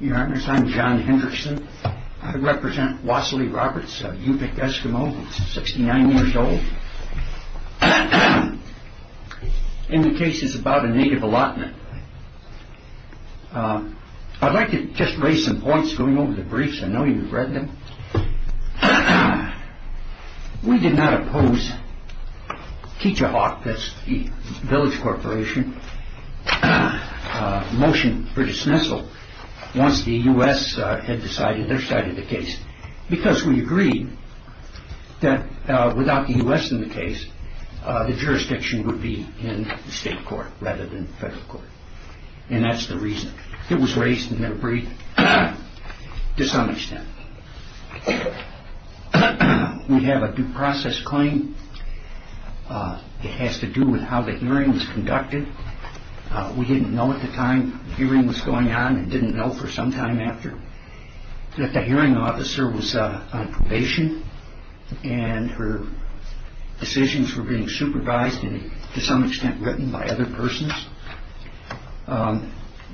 Your Honor, I'm John Henderson. I represent Wassily Roberts, a Yupik Eskimo, 69 years old. And the case is about a Native allotment. I'd like to just raise some points going over the briefs. I know you've read them. We did not oppose Keacher Hawk, that's the village corporation, motion for dismissal once the U.S. had decided their side of the case. Because we agreed that without the U.S. in the case, the jurisdiction would be in the state court rather than federal court. And that's the reason. It was raised in the brief to some extent. We have a due process claim. It has to do with how the hearing was conducted. We didn't know at the time the hearing was going on and didn't know for some time after. That the hearing officer was on probation and her decisions were being supervised and to some extent written by other persons.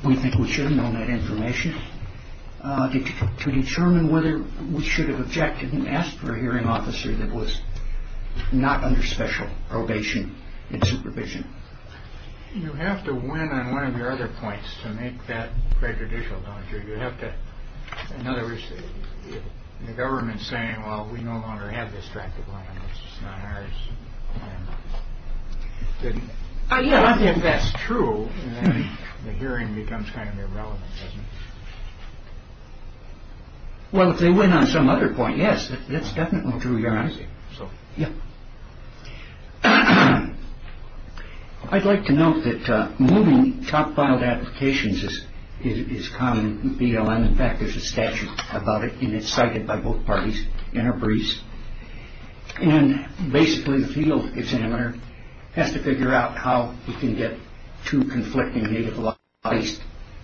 We think we should have known that information to determine whether we should have objected and asked for a hearing officer that was not under special probation and supervision. You have to win on one of your other points to make that prejudicial, don't you? You have to. In other words, the government saying, well, we no longer have this tract of land. It's not ours. I think that's true. The hearing becomes kind of irrelevant. Well, if they win on some other point. Yes, that's definitely true. You're right. So, yeah, I'd like to note that moving top filed applications is common BLM. In fact, there's a statute about it and it's cited by both parties in our briefs. And basically the field examiner has to figure out how he can get to conflicting legalized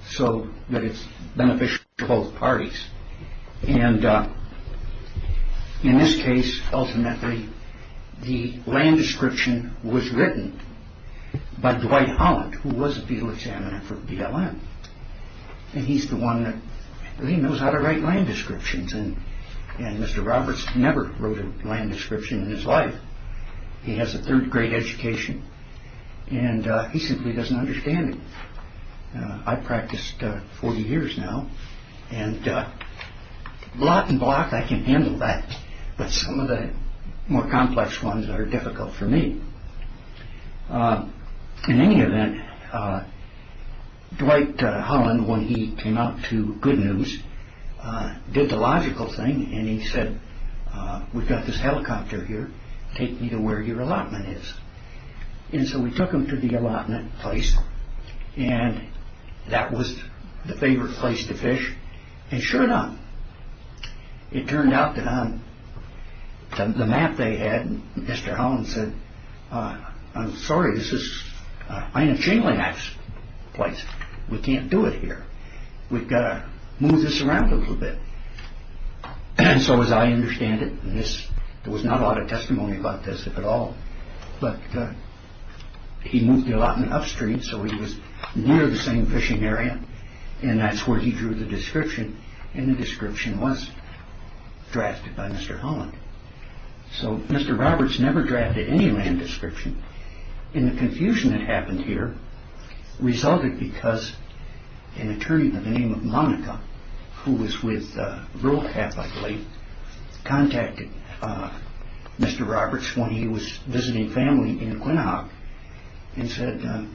so that it's beneficial to both parties. And in this case, ultimately, the land description was written by Dwight Holland, who was a field examiner for BLM. And he's the one that knows how to write land descriptions. And Mr. Roberts never wrote a land description in his life. He has a third grade education and he simply doesn't understand it. I practiced for years now and block and block. I can handle that. But some of the more complex ones are difficult for me. In any event, Dwight Holland, when he came out to good news, did the logical thing. And he said, we've got this helicopter here. Take me to where your allotment is. And so we took him to the allotment place. And that was the favorite place to fish. And sure enough, it turned out that on the map they had, Mr. Holland said, I'm sorry. This is Ina Chamberlain's place. We can't do it here. We've got to move this around a little bit. And so as I understand it, there was not a lot of testimony about this at all. But he moved the allotment upstream so he was near the same fishing area. And that's where he drew the description. And the description was drafted by Mr. Holland. So Mr. Roberts never drafted any land description. And the confusion that happened here resulted because an attorney by the name of Monica, who was with Rural Catholic Relief, contacted Mr. Roberts when he was visiting family in Quinhag and said,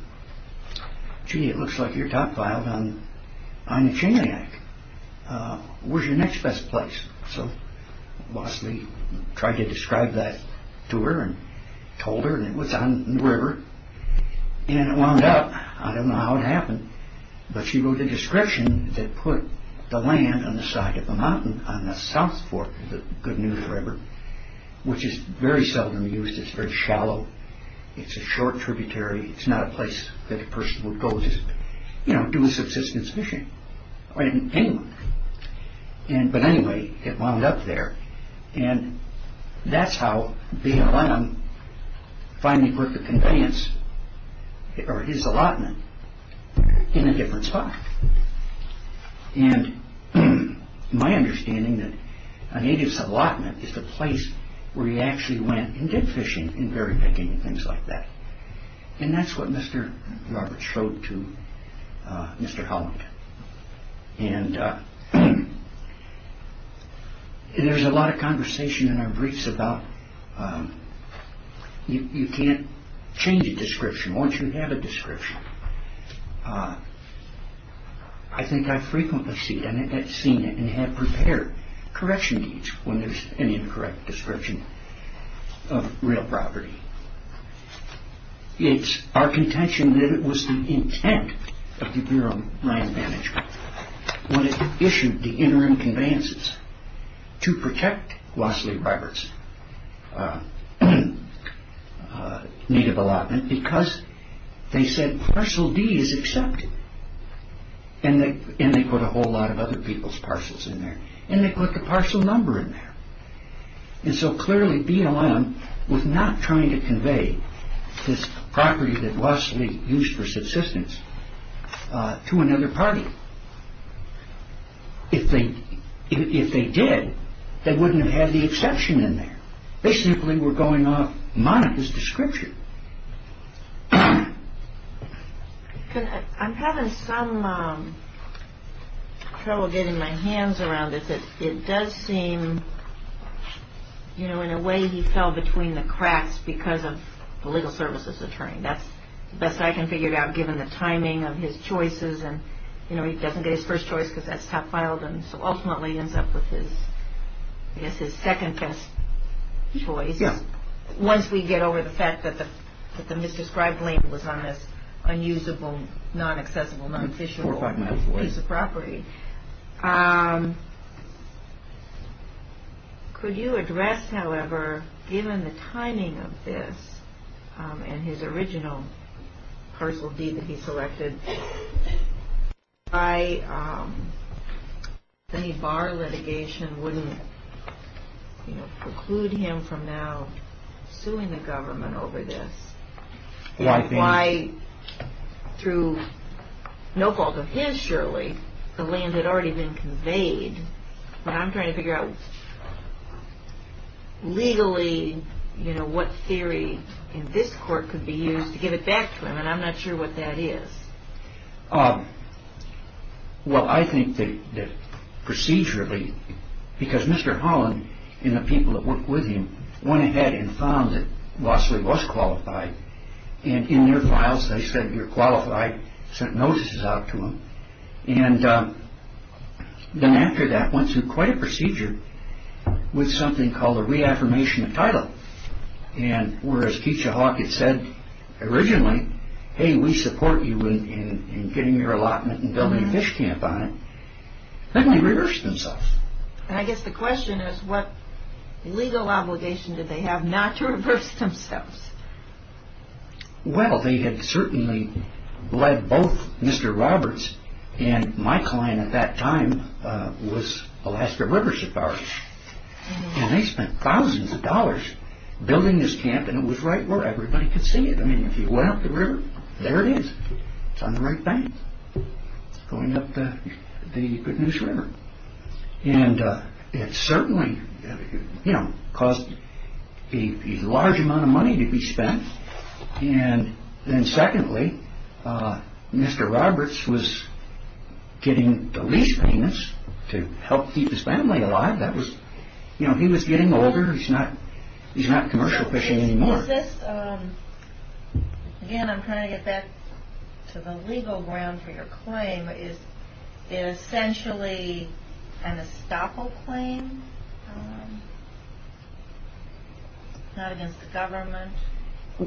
gee, it looks like you're top-filed on Ina Chamberlain. Where's your next best place? So Bosley tried to describe that to her and told her. And it was on the river. And it wound up, I don't know how it happened, but she wrote a description that put the land on the side of the mountain, on the south fork of the Good News River, which is very seldom used. It's very shallow. It's a short tributary. It's not a place that a person would go to do subsistence fishing. But anyway, it wound up there. And that's how BLM finally put the conveyance, or his allotment, in a different spot. And my understanding that a native's allotment is the place where he actually went and did fishing and berry picking and things like that. And that's what Mr. Roberts showed to Mr. Holland. And there's a lot of conversation in our briefs about you can't change a description once you have a description. I think I've frequently seen it and have prepared correction deeds when there's an incorrect description of real property. It's our contention that it was the intent of the Bureau of Land Management when it issued the interim conveyances to protect Wesley Roberts' native allotment because they said parcel D is accepted. And they put a whole lot of other people's parcels in there. And they put the parcel number in there. And so clearly BLM was not trying to convey this property that Wesley used for subsistence to another party. If they did, they wouldn't have had the exception in there. They simply were going off monotous description. I'm having some trouble getting my hands around this. It does seem, you know, in a way he fell between the cracks because of the legal services attorney. That's the best I can figure out given the timing of his choices. And, you know, he doesn't get his first choice because that's top file. And so ultimately ends up with his, I guess, his second best choice. Yeah. Once we get over the fact that the misdescribed name was on this unusable, non-accessible, non-official piece of property. Could you address, however, given the timing of this and his original parcel D that he selected, why any bar litigation wouldn't preclude him from now suing the government over this? Why through no fault of his, surely, the land had already been conveyed. But I'm trying to figure out legally, you know, what theory in this court could be used to give it back to him. And I'm not sure what that is. Well, I think that procedurally, because Mr. Holland and the people that worked with him went ahead and found that Vossley was qualified. And in their files, they said you're qualified, sent notices out to him. And then after that went through quite a procedure with something called a reaffirmation of title. And whereas Keisha Hawkins said originally, hey, we support you in getting your allotment and building a fish camp on it, then they reversed themselves. And I guess the question is, what legal obligation did they have not to reverse themselves? Well, they had certainly led both Mr. Roberts and my client at that time was Alaska River Safari. And they spent thousands of dollars building this camp. And it was right where everybody could see it. I mean, if you went up the river, there it is. It's on the right bank going up the Good News River. And it certainly, you know, caused a large amount of money to be spent. And then secondly, Mr. Roberts was getting the lease payments to help keep his family alive. That was, you know, he was getting older. He's not commercial fishing anymore. Is this, again, I'm trying to get back to the legal ground for your claim. Is it essentially an estoppel claim, not against the government?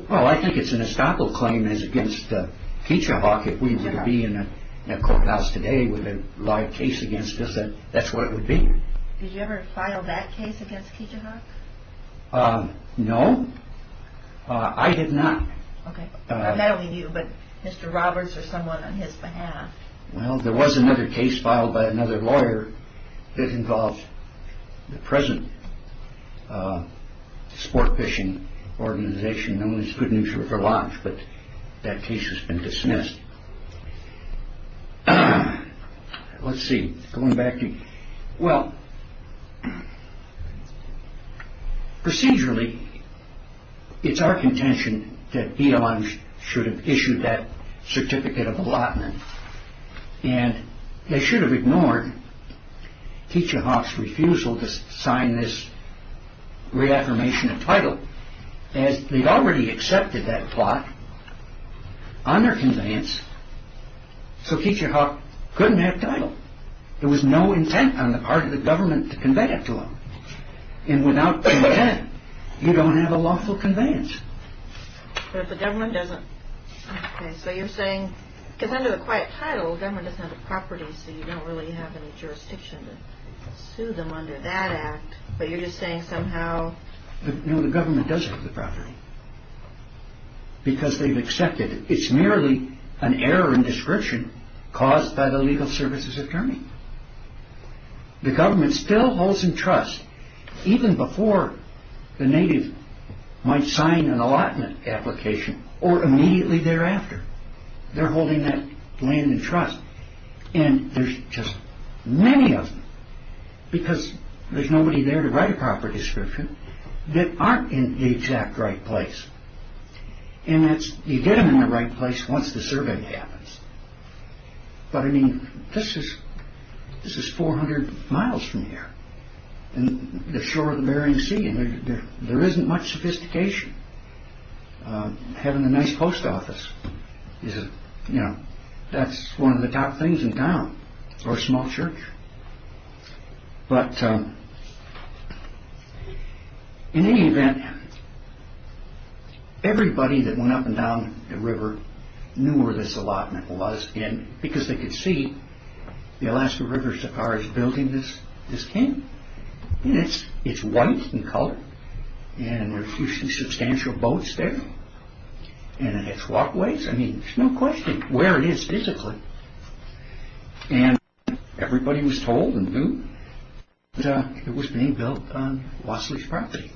Well, I think it's an estoppel claim. It's against Keisha Hawkins. If we were to be in a courthouse today with a live case against us, that's what it would be. Did you ever file that case against Keisha Hawkins? No. I did not. Not only you, but Mr. Roberts or someone on his behalf. Well, there was another case filed by another lawyer that involved the present sport fishing organization known as Good News River Lodge. But that case has been dismissed. Let's see. Going back to, well, procedurally, it's our contention that he alone should have issued that certificate of allotment. And they should have ignored Keisha Hawks' refusal to sign this reaffirmation of title. As they'd already accepted that plot under conveyance, so Keisha Hawks couldn't have title. There was no intent on the part of the government to convey it to them. And without intent, you don't have a lawful conveyance. But if the government doesn't. So you're saying, because under the quiet title, government doesn't have the property, so you don't really have any jurisdiction to sue them under that act. But you're just saying somehow. No, the government does have the property. Because they've accepted it's merely an error in description caused by the legal services attorney. The government still holds in trust, even before the native might sign an allotment application, or immediately thereafter. They're holding that land in trust. And there's just many of them. Because there's nobody there to write a proper description that aren't in the exact right place. And you get them in the right place once the survey happens. But I mean, this is 400 miles from here. The shore of the Bering Sea. There isn't much sophistication. Having a nice post office. That's one of the top things in town. Or a small church. But in any event, everybody that went up and down the river knew where this allotment was. Because they could see the Alaska River is building this king. And it's white in color. And there are a few substantial boats there. And it's walkways. I mean, there's no question where it is physically. And everybody was told and knew it was being built on Wassily's property.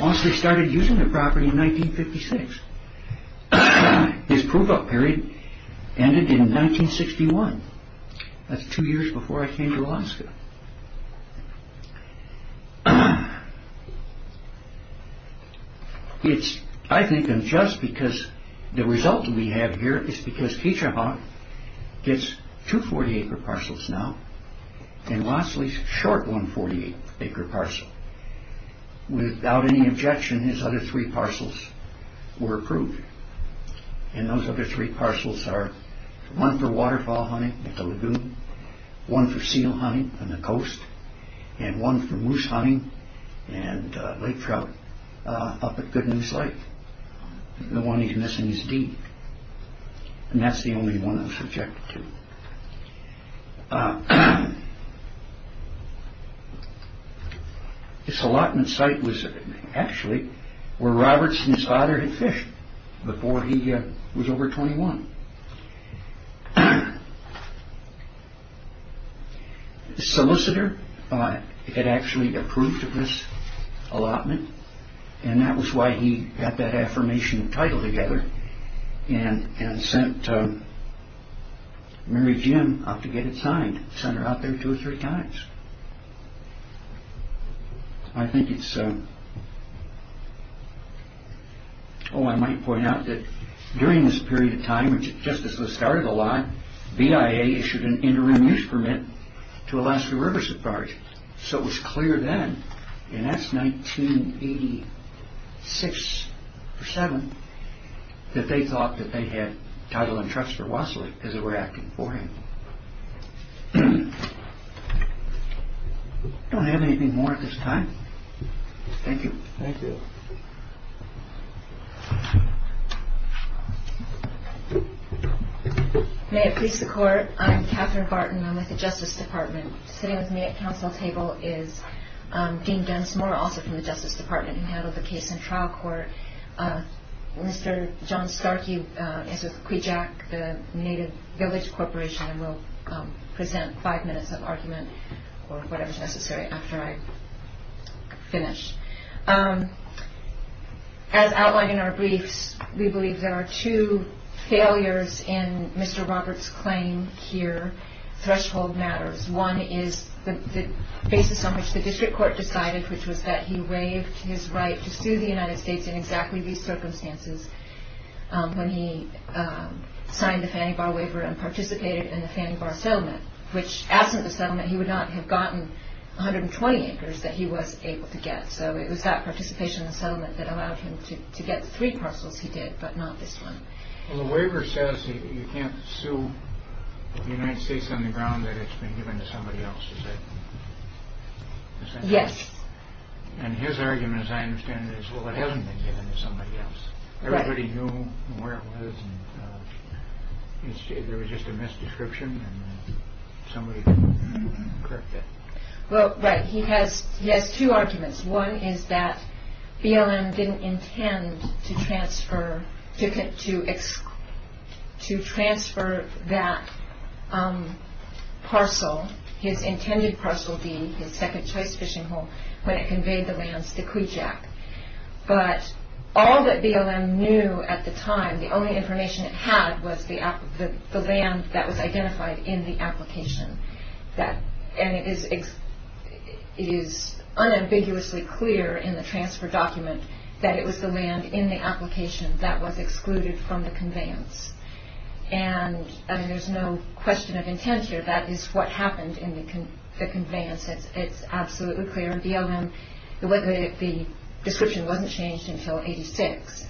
Wassily started using the property in 1956. His prove up period ended in 1961. That's two years before I came to Alaska. I think just because the result we have here is because Ketra Haug gets two 40-acre parcels now. And Wassily's short one 48-acre parcel. Without any objection, his other three parcels were approved. And those other three parcels are one for waterfowl hunting at the lagoon. One for seal hunting on the coast. And one for moose hunting and lake trout up at Goodman's Lake. The one he's missing is deep. And that's the only one I'm subjected to. This allotment site was actually where Roberts and his father had fished before he was over 21. The solicitor had actually approved of this allotment. And that was why he got that affirmation title together. And sent Mary Jim out to get it signed. Sent her out there two or three times. I might point out that during this period of time, just as this started a lot, BIA issued an interim use permit to Alaska Riverside Park. So it was clear then, and that's 1986 or 7, that they thought that they had title and trust for Wassily as they were acting for him. Do I have anything more at this time? Thank you. Thank you. May it please the court. I'm Catherine Barton. I'm with the Justice Department. Sitting with me at council table is Dean Dennis Moore, also from the Justice Department, who handled the case in trial court. Mr. John Starkey is with Quijac, the native village corporation, and will present five minutes of argument, or whatever is necessary, after I finish. As outlined in our briefs, we believe there are two failures in Mr. Roberts' claim here. Threshold matters. One is the basis on which the district court decided, which was that he waived his right to sue the United States in exactly these circumstances when he signed the Fannie Bar Waiver and participated in the Fannie Bar Settlement, which, absent the settlement, he would not have gotten 120 acres that he was able to get. So it was that participation in the settlement that allowed him to get the three parcels he did, but not this one. Well, the waiver says that you can't sue the United States on the ground that it's been given to somebody else. Yes. And his argument, as I understand it, is, well, it hasn't been given to somebody else. Right. Everybody knew where it was, and there was just a misdescription, and somebody could correct it. Well, right. He has two arguments. One is that BLM didn't intend to transfer that parcel, his intended parcel D, his second-choice fishing hole, when it conveyed the lands to Kujak. But all that BLM knew at the time, the only information it had, was the land that was identified in the application. And it is unambiguously clear in the transfer document that it was the land in the application that was excluded from the conveyance. And there's no question of intent here. That is what happened in the conveyance. It's absolutely clear. BLM, the description wasn't changed until 86,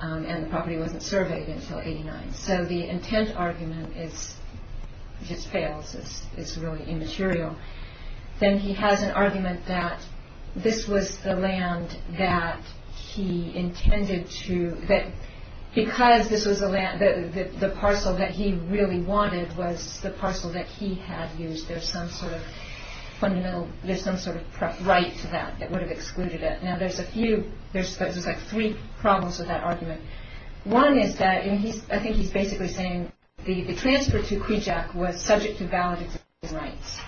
and the property wasn't surveyed until 89. So the intent argument just fails. It's really immaterial. Then he has an argument that this was the land that he intended to, that because the parcel that he really wanted was the parcel that he had used, there's some sort of right to that that would have excluded it. Now, there's three problems with that argument. One is that, I think he's basically saying, the transfer to Kujak was subject to valid existing rights.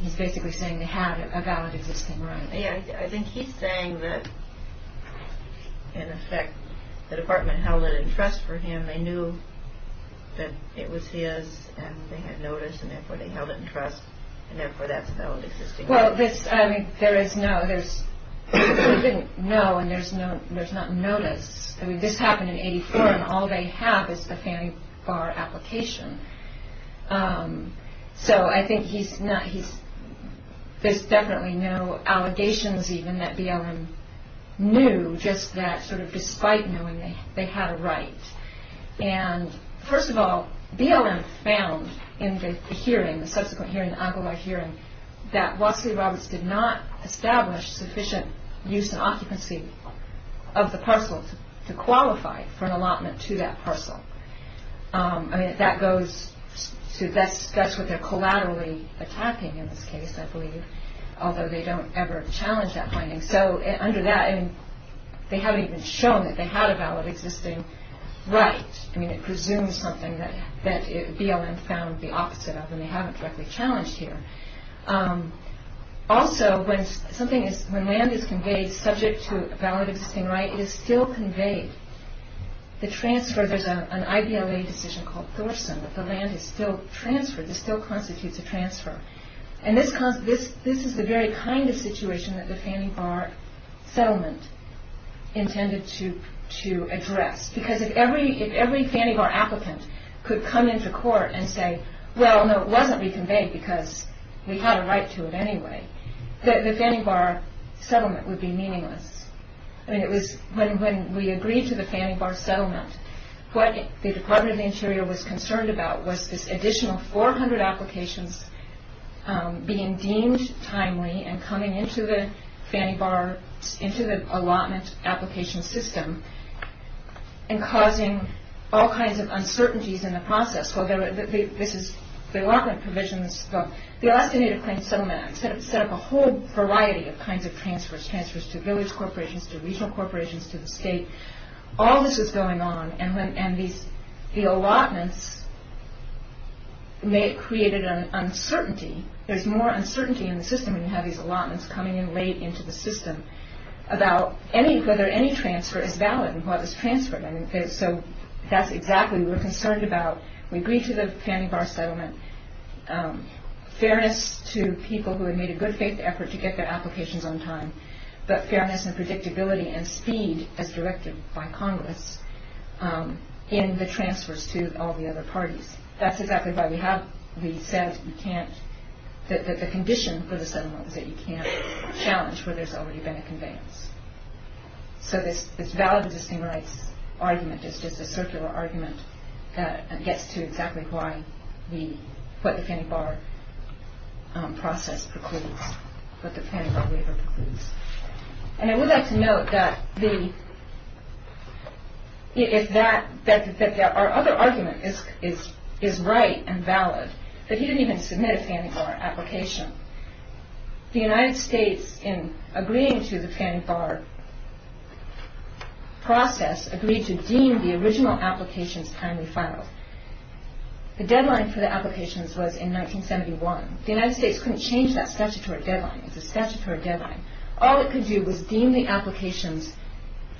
He's basically saying they had a valid existing right. I think he's saying that, in effect, the department held it in trust for him. They knew that it was his, and they had notice, and therefore they held it in trust, and therefore that's a valid existing right. Well, this, I mean, there is no, there's, he didn't know, and there's no, there's not notice. I mean, this happened in 84, and all they have is the family bar application. So, I think he's not, he's, there's definitely no allegations, even, that BLM knew, just that sort of despite knowing they had a right. And, first of all, BLM found in the hearing, the subsequent hearing, the Agobar hearing, that Wassily Roberts did not establish sufficient use and occupancy of the parcel to qualify for an allotment to that parcel. I mean, that goes to, that's what they're collaterally attacking in this case, I believe, although they don't ever challenge that finding. So, under that, I mean, they haven't even shown that they had a valid existing right. I mean, it presumes something that BLM found the opposite of, and they haven't directly challenged here. Also, when something is, when land is conveyed subject to a valid existing right, and it is still conveyed, the transfer, there's an IPLA decision called Thorson, that the land is still transferred, this still constitutes a transfer. And this is the very kind of situation that the family bar settlement intended to address. Because if every family bar applicant could come into court and say, well, no, it wasn't reconveyed because we had a right to it anyway, the family bar settlement would be meaningless. I mean, it was, when we agreed to the family bar settlement, what the Department of the Interior was concerned about was this additional 400 applications being deemed timely and coming into the family bar, into the allotment application system, and causing all kinds of uncertainties in the process. Well, this is, the allotment provisions, the Alaska Native Claims Settlement set up a whole variety of kinds of transfers, transfers to village corporations, to regional corporations, to the state. All this was going on, and the allotments created an uncertainty. There's more uncertainty in the system when you have these allotments coming in late into the system about whether any transfer is valid and what is transferred. So that's exactly what we're concerned about. We agreed to the family bar settlement, fairness to people who had made a good faith effort to get their applications on time, but fairness and predictability and speed, as directed by Congress, in the transfers to all the other parties. That's exactly why we have the set, you can't, the condition for the settlement is that you can't challenge where there's already been a conveyance. So this valid existing rights argument is just a circular argument that gets to exactly why we, what the family bar process precludes, what the family bar waiver precludes. And I would like to note that the, if that, that our other argument is right and valid, that he didn't even submit a family bar application. The United States, in agreeing to the family bar process, agreed to deem the original applications timely filed. The deadline for the applications was in 1971. The United States couldn't change that statutory deadline. It's a statutory deadline. All it could do was deem the applications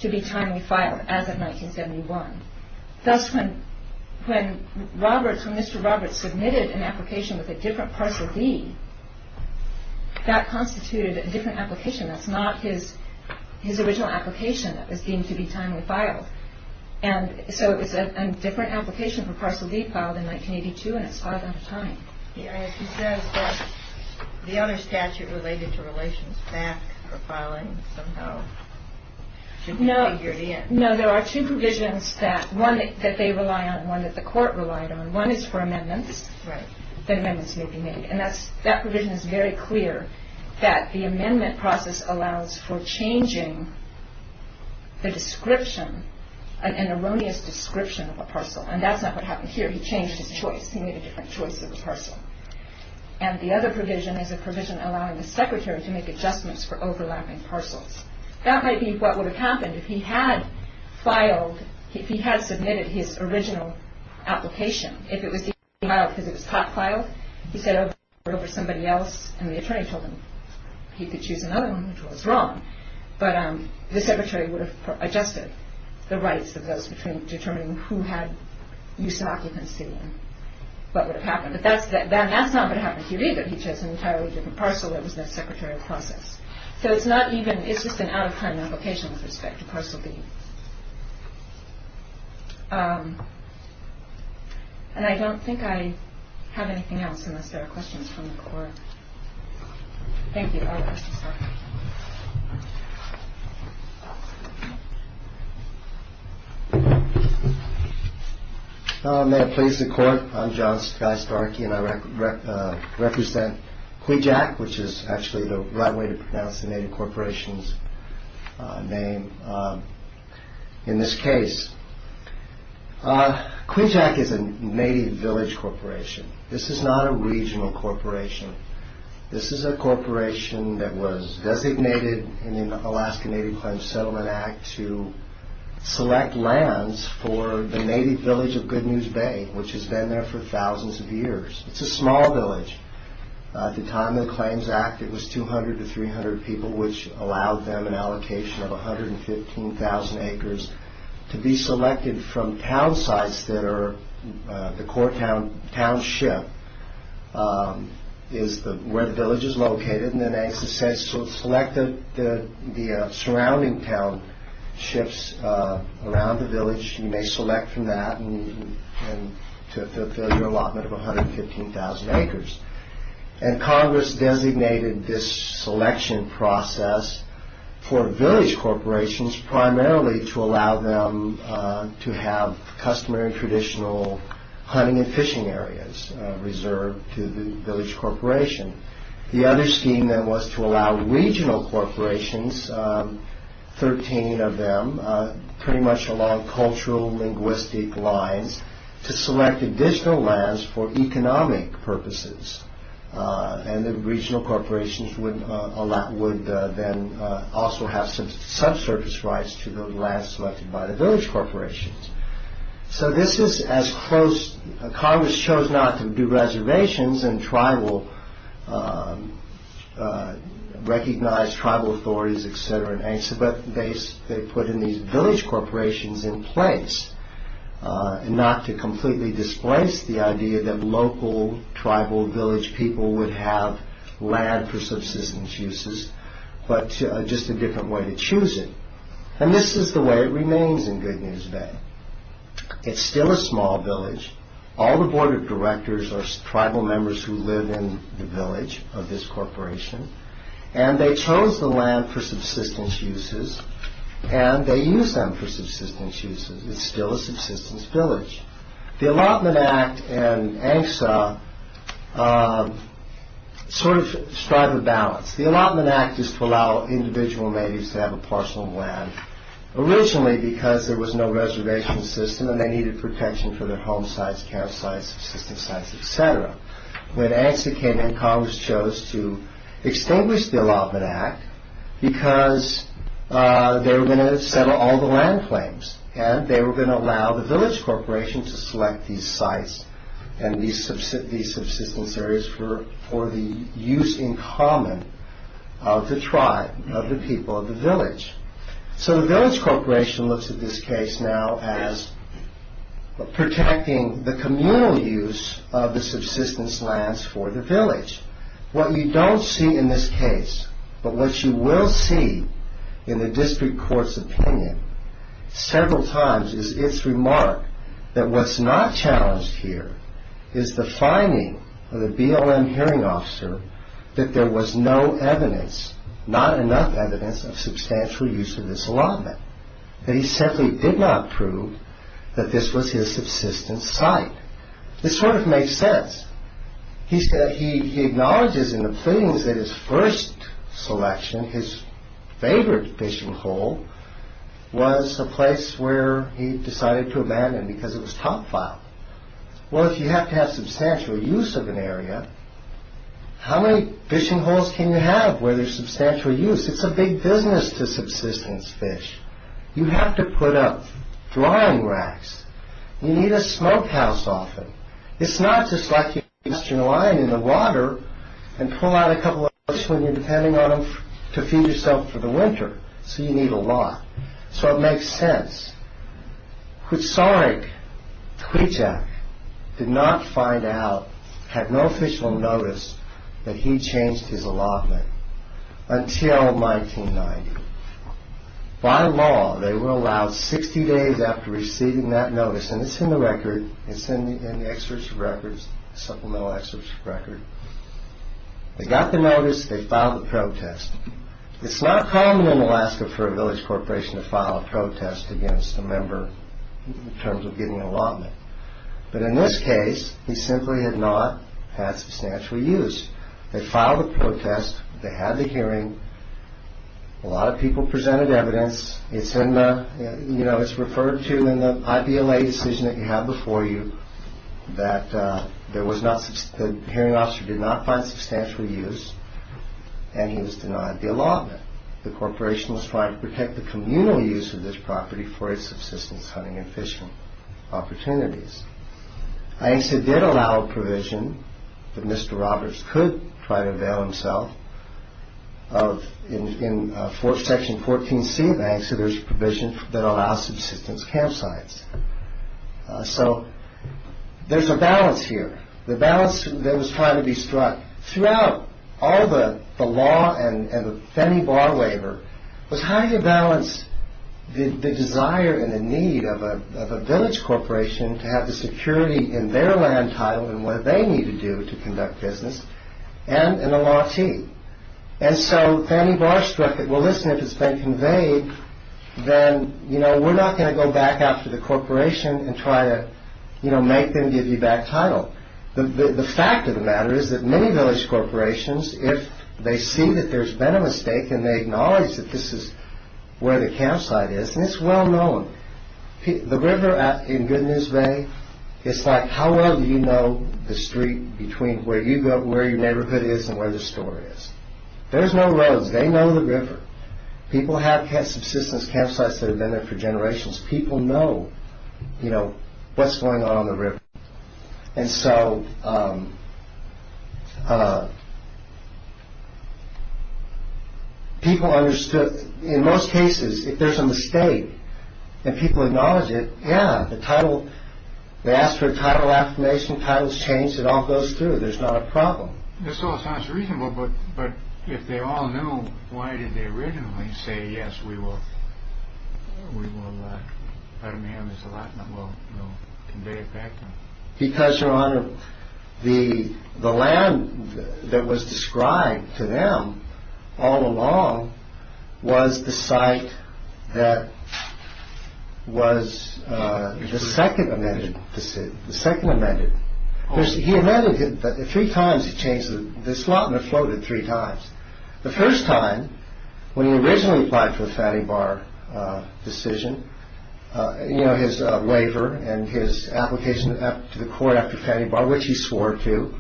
to be timely filed as of 1971. Thus, when Roberts, when Mr. Roberts submitted an application with a different parcel D, that constituted a different application. That's not his original application that was deemed to be timely filed. And so it was a different application for parcel D filed in 1982, and it's filed on time. He says that the other statute related to relations back for filing somehow should be figured in. No, there are two provisions that, one that they rely on, one that the court relied on. One is for amendments. Right. That amendments may be made. And that's, that provision is very clear, that the amendment process allows for changing the description, an erroneous description of a parcel. And that's not what happened here. He changed his choice. He made a different choice of the parcel. And the other provision is a provision allowing the secretary to make adjustments for overlapping parcels. That might be what would have happened if he had filed, if he had submitted his original application. If it was D filed because it was hot filed, he said over somebody else, and the attorney told him he could choose another one, which was wrong. But the secretary would have adjusted the rights of those determining who had use of occupancy and what would have happened. But that's not what happened here either. He chose an entirely different parcel. There was no secretarial process. So it's not even, it's just an out of time application with respect to parcel B. And I don't think I have anything else unless there are questions from the court. Thank you. May it please the court. I'm John Sky Starkey and I represent Quijack, which is actually the right way to pronounce the native corporation's name in this case. Quijack is a native village corporation. This is not a regional corporation. This is a corporation that was designated in the Alaska Native Claims Settlement Act to select lands for the native village of Good News Bay, which has been there for thousands of years. It's a small village. At the time of the Claims Act, it was 200 to 300 people, which allowed them an allocation of 115,000 acres to be selected from town sites that are the core township is where the village is located. Select the surrounding townships around the village. You may select from that to fulfill your allotment of 115,000 acres. And Congress designated this selection process for village corporations primarily to allow them to have customary traditional hunting and fishing areas reserved to the village corporation. The other scheme was to allow regional corporations, 13 of them, pretty much along cultural linguistic lines, to select additional lands for economic purposes. And the regional corporations would then also have subsurface rights to the lands selected by the village corporations. So this is as close... Congress chose not to do reservations and recognize tribal authorities, etc. but they put in these village corporations in place and not to completely displace the idea that local tribal village people would have land for subsistence uses, but just a different way to choose it. And this is the way it remains in Good News Bay. It's still a small village. All the board of directors are tribal members who live in the village of this corporation. And they chose the land for subsistence uses and they use them for subsistence uses. It's still a subsistence village. The Allotment Act and ANCSA strive for balance. The Allotment Act is to allow individual natives to have a parcel of land originally because there was no reservation system and they needed protection for their home sites, campsites, subsistence sites, etc. When ANCSA came in, Congress chose to extinguish the Allotment Act because they were going to settle all the land claims and they were going to allow the village corporation to select these sites and these subsistence areas for the use in common of the tribe, of the people of the village. So the village corporation looks at this case now as protecting the communal use of the subsistence lands for the village. What you don't see in this case, but what you will see in the district court's opinion several times is its remark that what's not challenged here is the finding of the BLM hearing officer that there was no evidence, not enough evidence of substantial use of this allotment. That he simply did not prove that this was his subsistence site. This sort of makes sense. He acknowledges in the pleadings that his first selection, his favorite fishing hole was a place where he decided to abandon because it was top file. Well, if you have to have substantial use of an area, how many fishing holes can you have where there's substantial use? It's a big business to subsistence fish. You have to put up drawing racks. You need a smokehouse often. It's not just like you cast your line in the water and pull out a couple of hooks when you're depending on them to feed yourself for the winter. So you need a lot. So it makes sense. Hussarik Twijak did not find out, had no official notice, that he changed his allotment until 1990. By law, they were allowed 60 days after receiving that notice, and it's in the record. It's in the excerpts of records, supplemental excerpts of record. They got the notice. They filed the protest. It's not common in Alaska for a village corporation to file a protest against a member in terms of getting an allotment. But in this case, he simply had not had substantial use. They filed a protest. They had the hearing. A lot of people presented evidence. It's referred to in the IPLA decision that you have before you that the hearing officer did not find substantial use, and he was denied the allotment. The corporation was trying to protect the communal use of this property for its subsistence hunting and fishing opportunities. ANCSA did allow a provision that Mr. Roberts could try to avail himself of. In Section 14C of ANCSA, there's a provision that allows subsistence campsites. So there's a balance here, the balance that was trying to be struck throughout all the law and the Fannie Barr waiver was how to balance the desire and the need of a village corporation to have the security in their land title and what they need to do to conduct business and an allottee. And so Fannie Barr struck it. Well, listen, if it's been conveyed, then, you know, we're not going to go back after the corporation and try to, you know, make them give you back title. The fact of the matter is that many village corporations, if they see that there's been a mistake and they acknowledge that this is where the campsite is, and it's well known, the river in Good News Bay, it's like how well do you know the street between where you go, where your neighborhood is and where the store is? There's no roads. They know the river. People have had subsistence campsites that have been there for generations. People know, you know, what's going on on the river. And so people understood. In most cases, if there's a mistake and people acknowledge it, yeah, the title. They ask for a title affirmation. Title's changed. It all goes through. There's not a problem. This all sounds reasonable, but if they all know, why did they originally say, yes, we will. We will. I mean, there's a lot that will convey it back. Because, Your Honor, the the land that was described to them all along was the site that was the second amended. This is the second amended. He amended it three times. It changes. This lot in the floated three times. The first time, when he originally applied for the Fatty Bar decision, you know, his waiver and his application to the court after Fatty Bar, which he swore to,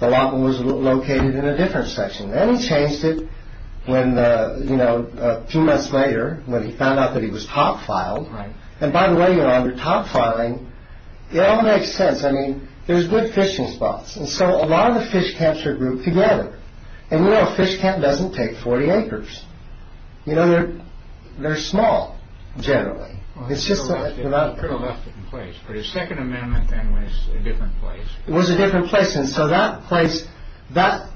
the lot was located in a different section. Then he changed it when, you know, a few months later when he found out that he was top filed. And, by the way, Your Honor, top filing, it all makes sense. I mean, there's good fishing spots. And so a lot of the fish camps are grouped together. And, you know, a fish camp doesn't take 40 acres. You know, they're small, generally. It's just that. He could have left it in place, but his second amendment then was a different place. It was a different place. And so that place, that,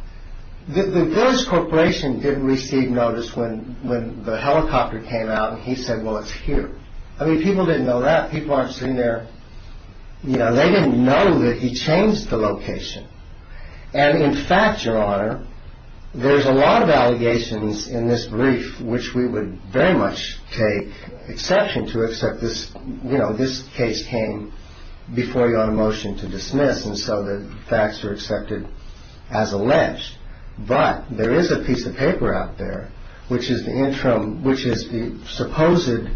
the village corporation didn't receive notice when the helicopter came out and he said, well, it's here. I mean, people didn't know that. People aren't sitting there. You know, they didn't know that he changed the location. And, in fact, Your Honor, there's a lot of allegations in this brief, which we would very much take exception to except this, you know, this case came before your motion to dismiss. And so the facts are accepted as alleged. But there is a piece of paper out there, which is the interim, which is the supposed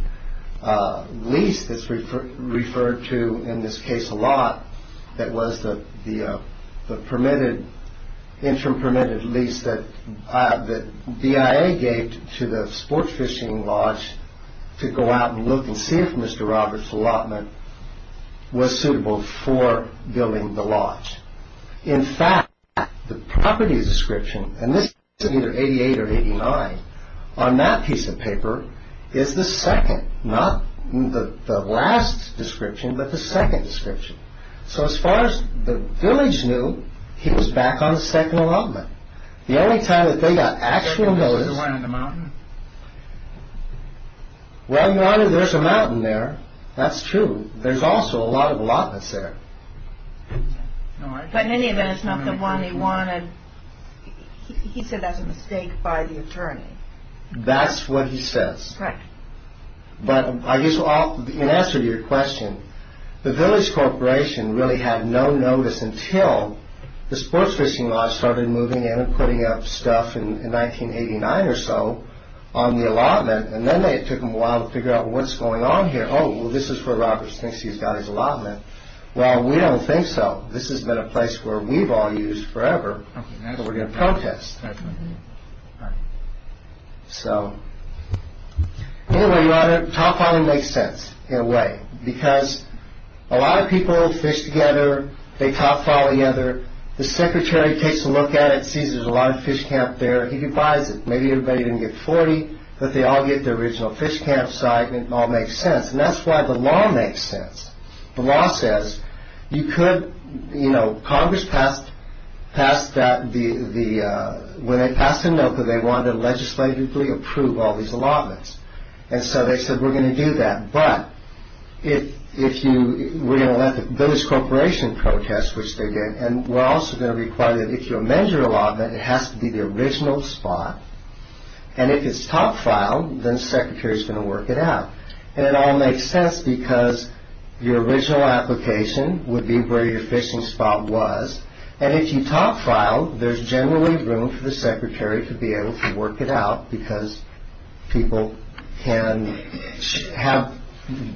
lease that's referred to in this case a lot that was the permitted, interim permitted lease that BIA gave to the sports fishing lodge to go out and look and see if Mr. Roberts' allotment was suitable for building the lodge. In fact, the property description, and this is either 88 or 89, on that piece of paper is the second, not the last description, but the second description. So as far as the village knew, he was back on the second allotment. The only time that they got actual notice. They wanted the mountain? Well, Your Honor, there's a mountain there. That's true. There's also a lot of allotments there. But in any event, it's not the one they wanted. He said that's a mistake by the attorney. That's what he says. Correct. But I guess in answer to your question, the village corporation really had no notice until the sports fishing lodge started moving in and putting up stuff in 1989 or so on the allotment. And then it took them a while to figure out what's going on here. Oh, well, this is where Roberts thinks he's got his allotment. Well, we don't think so. This has been a place where we've all used forever. And we're going to protest. So, anyway, Your Honor, Top Folly makes sense in a way, because a lot of people fish together. They top folly together. The secretary takes a look at it, sees there's a lot of fish camp there. He buys it. Maybe everybody didn't get 40, but they all get the original fish camp site. It all makes sense. And that's why the law makes sense. The law says you could, you know, Congress passed that when they passed the NOCA, they wanted to legislatively approve all these allotments. And so they said we're going to do that. But we're going to let the village corporation protest, which they did, and we're also going to require that if you amend your allotment, it has to be the original spot. And if it's top folly, then the secretary's going to work it out. And it all makes sense, because your original application would be where your fishing spot was. And if you top folly, there's generally room for the secretary to be able to work it out, because people can have,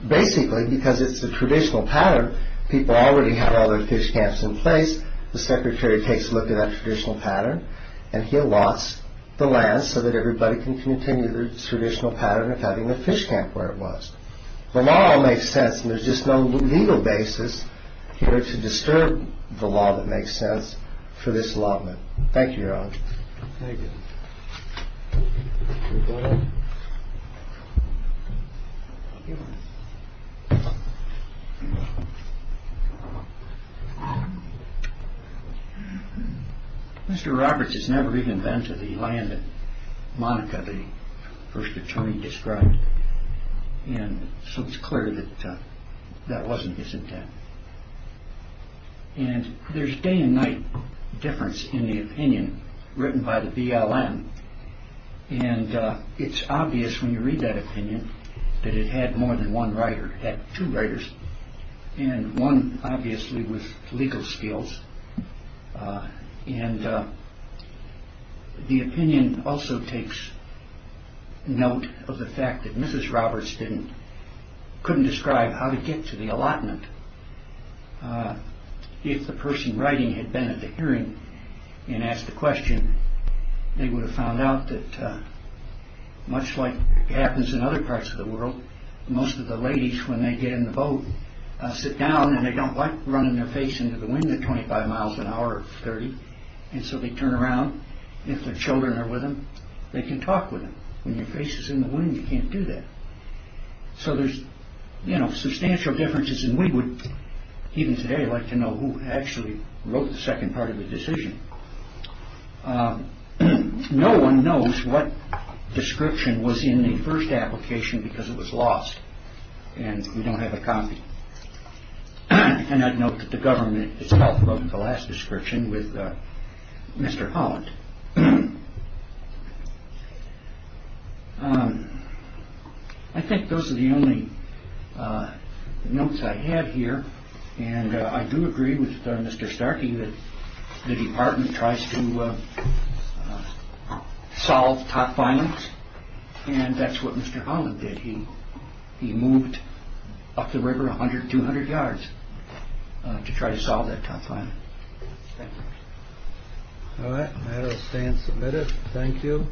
basically, because it's a traditional pattern, people already have all their fish camps in place. The secretary takes a look at that traditional pattern, and he allots the land so that everybody can continue the traditional pattern of having a fish camp where it was. The law makes sense, and there's just no legal basis here to disturb the law that makes sense for this allotment. Thank you, Your Honor. Thank you. Thank you, Your Honor. Mr. Roberts has never even been to the land that Monica, the first attorney, described. And so it's clear that that wasn't his intent. And there's day and night difference in the opinion written by the BLM. And it's obvious, when you read that opinion, that it had more than one writer. It had two writers, and one, obviously, with legal skills. And the opinion also takes note of the fact that Mrs. Roberts couldn't describe how to get to the allotment. If the person writing had been at the hearing and asked the question, they would have found out that, much like happens in other parts of the world, most of the ladies, when they get in the boat, sit down and they don't like running their face into the wind at 25 miles an hour or 30, and so they turn around. If their children are with them, they can talk with them. When your face is in the wind, you can't do that. So there's substantial differences, and we would, even today, like to know who actually wrote the second part of the decision. No one knows what description was in the first application because it was lost, and we don't have a copy. And I'd note that the government itself wrote the last description with Mr. Holland. I think those are the only notes I have here, and I do agree with Mr. Starkey that the department tries to solve top violence, and that's what Mr. Holland did. He moved up the river 100, 200 yards to try to solve that top violence. Thank you. All right, that'll stand submitted. Thank you.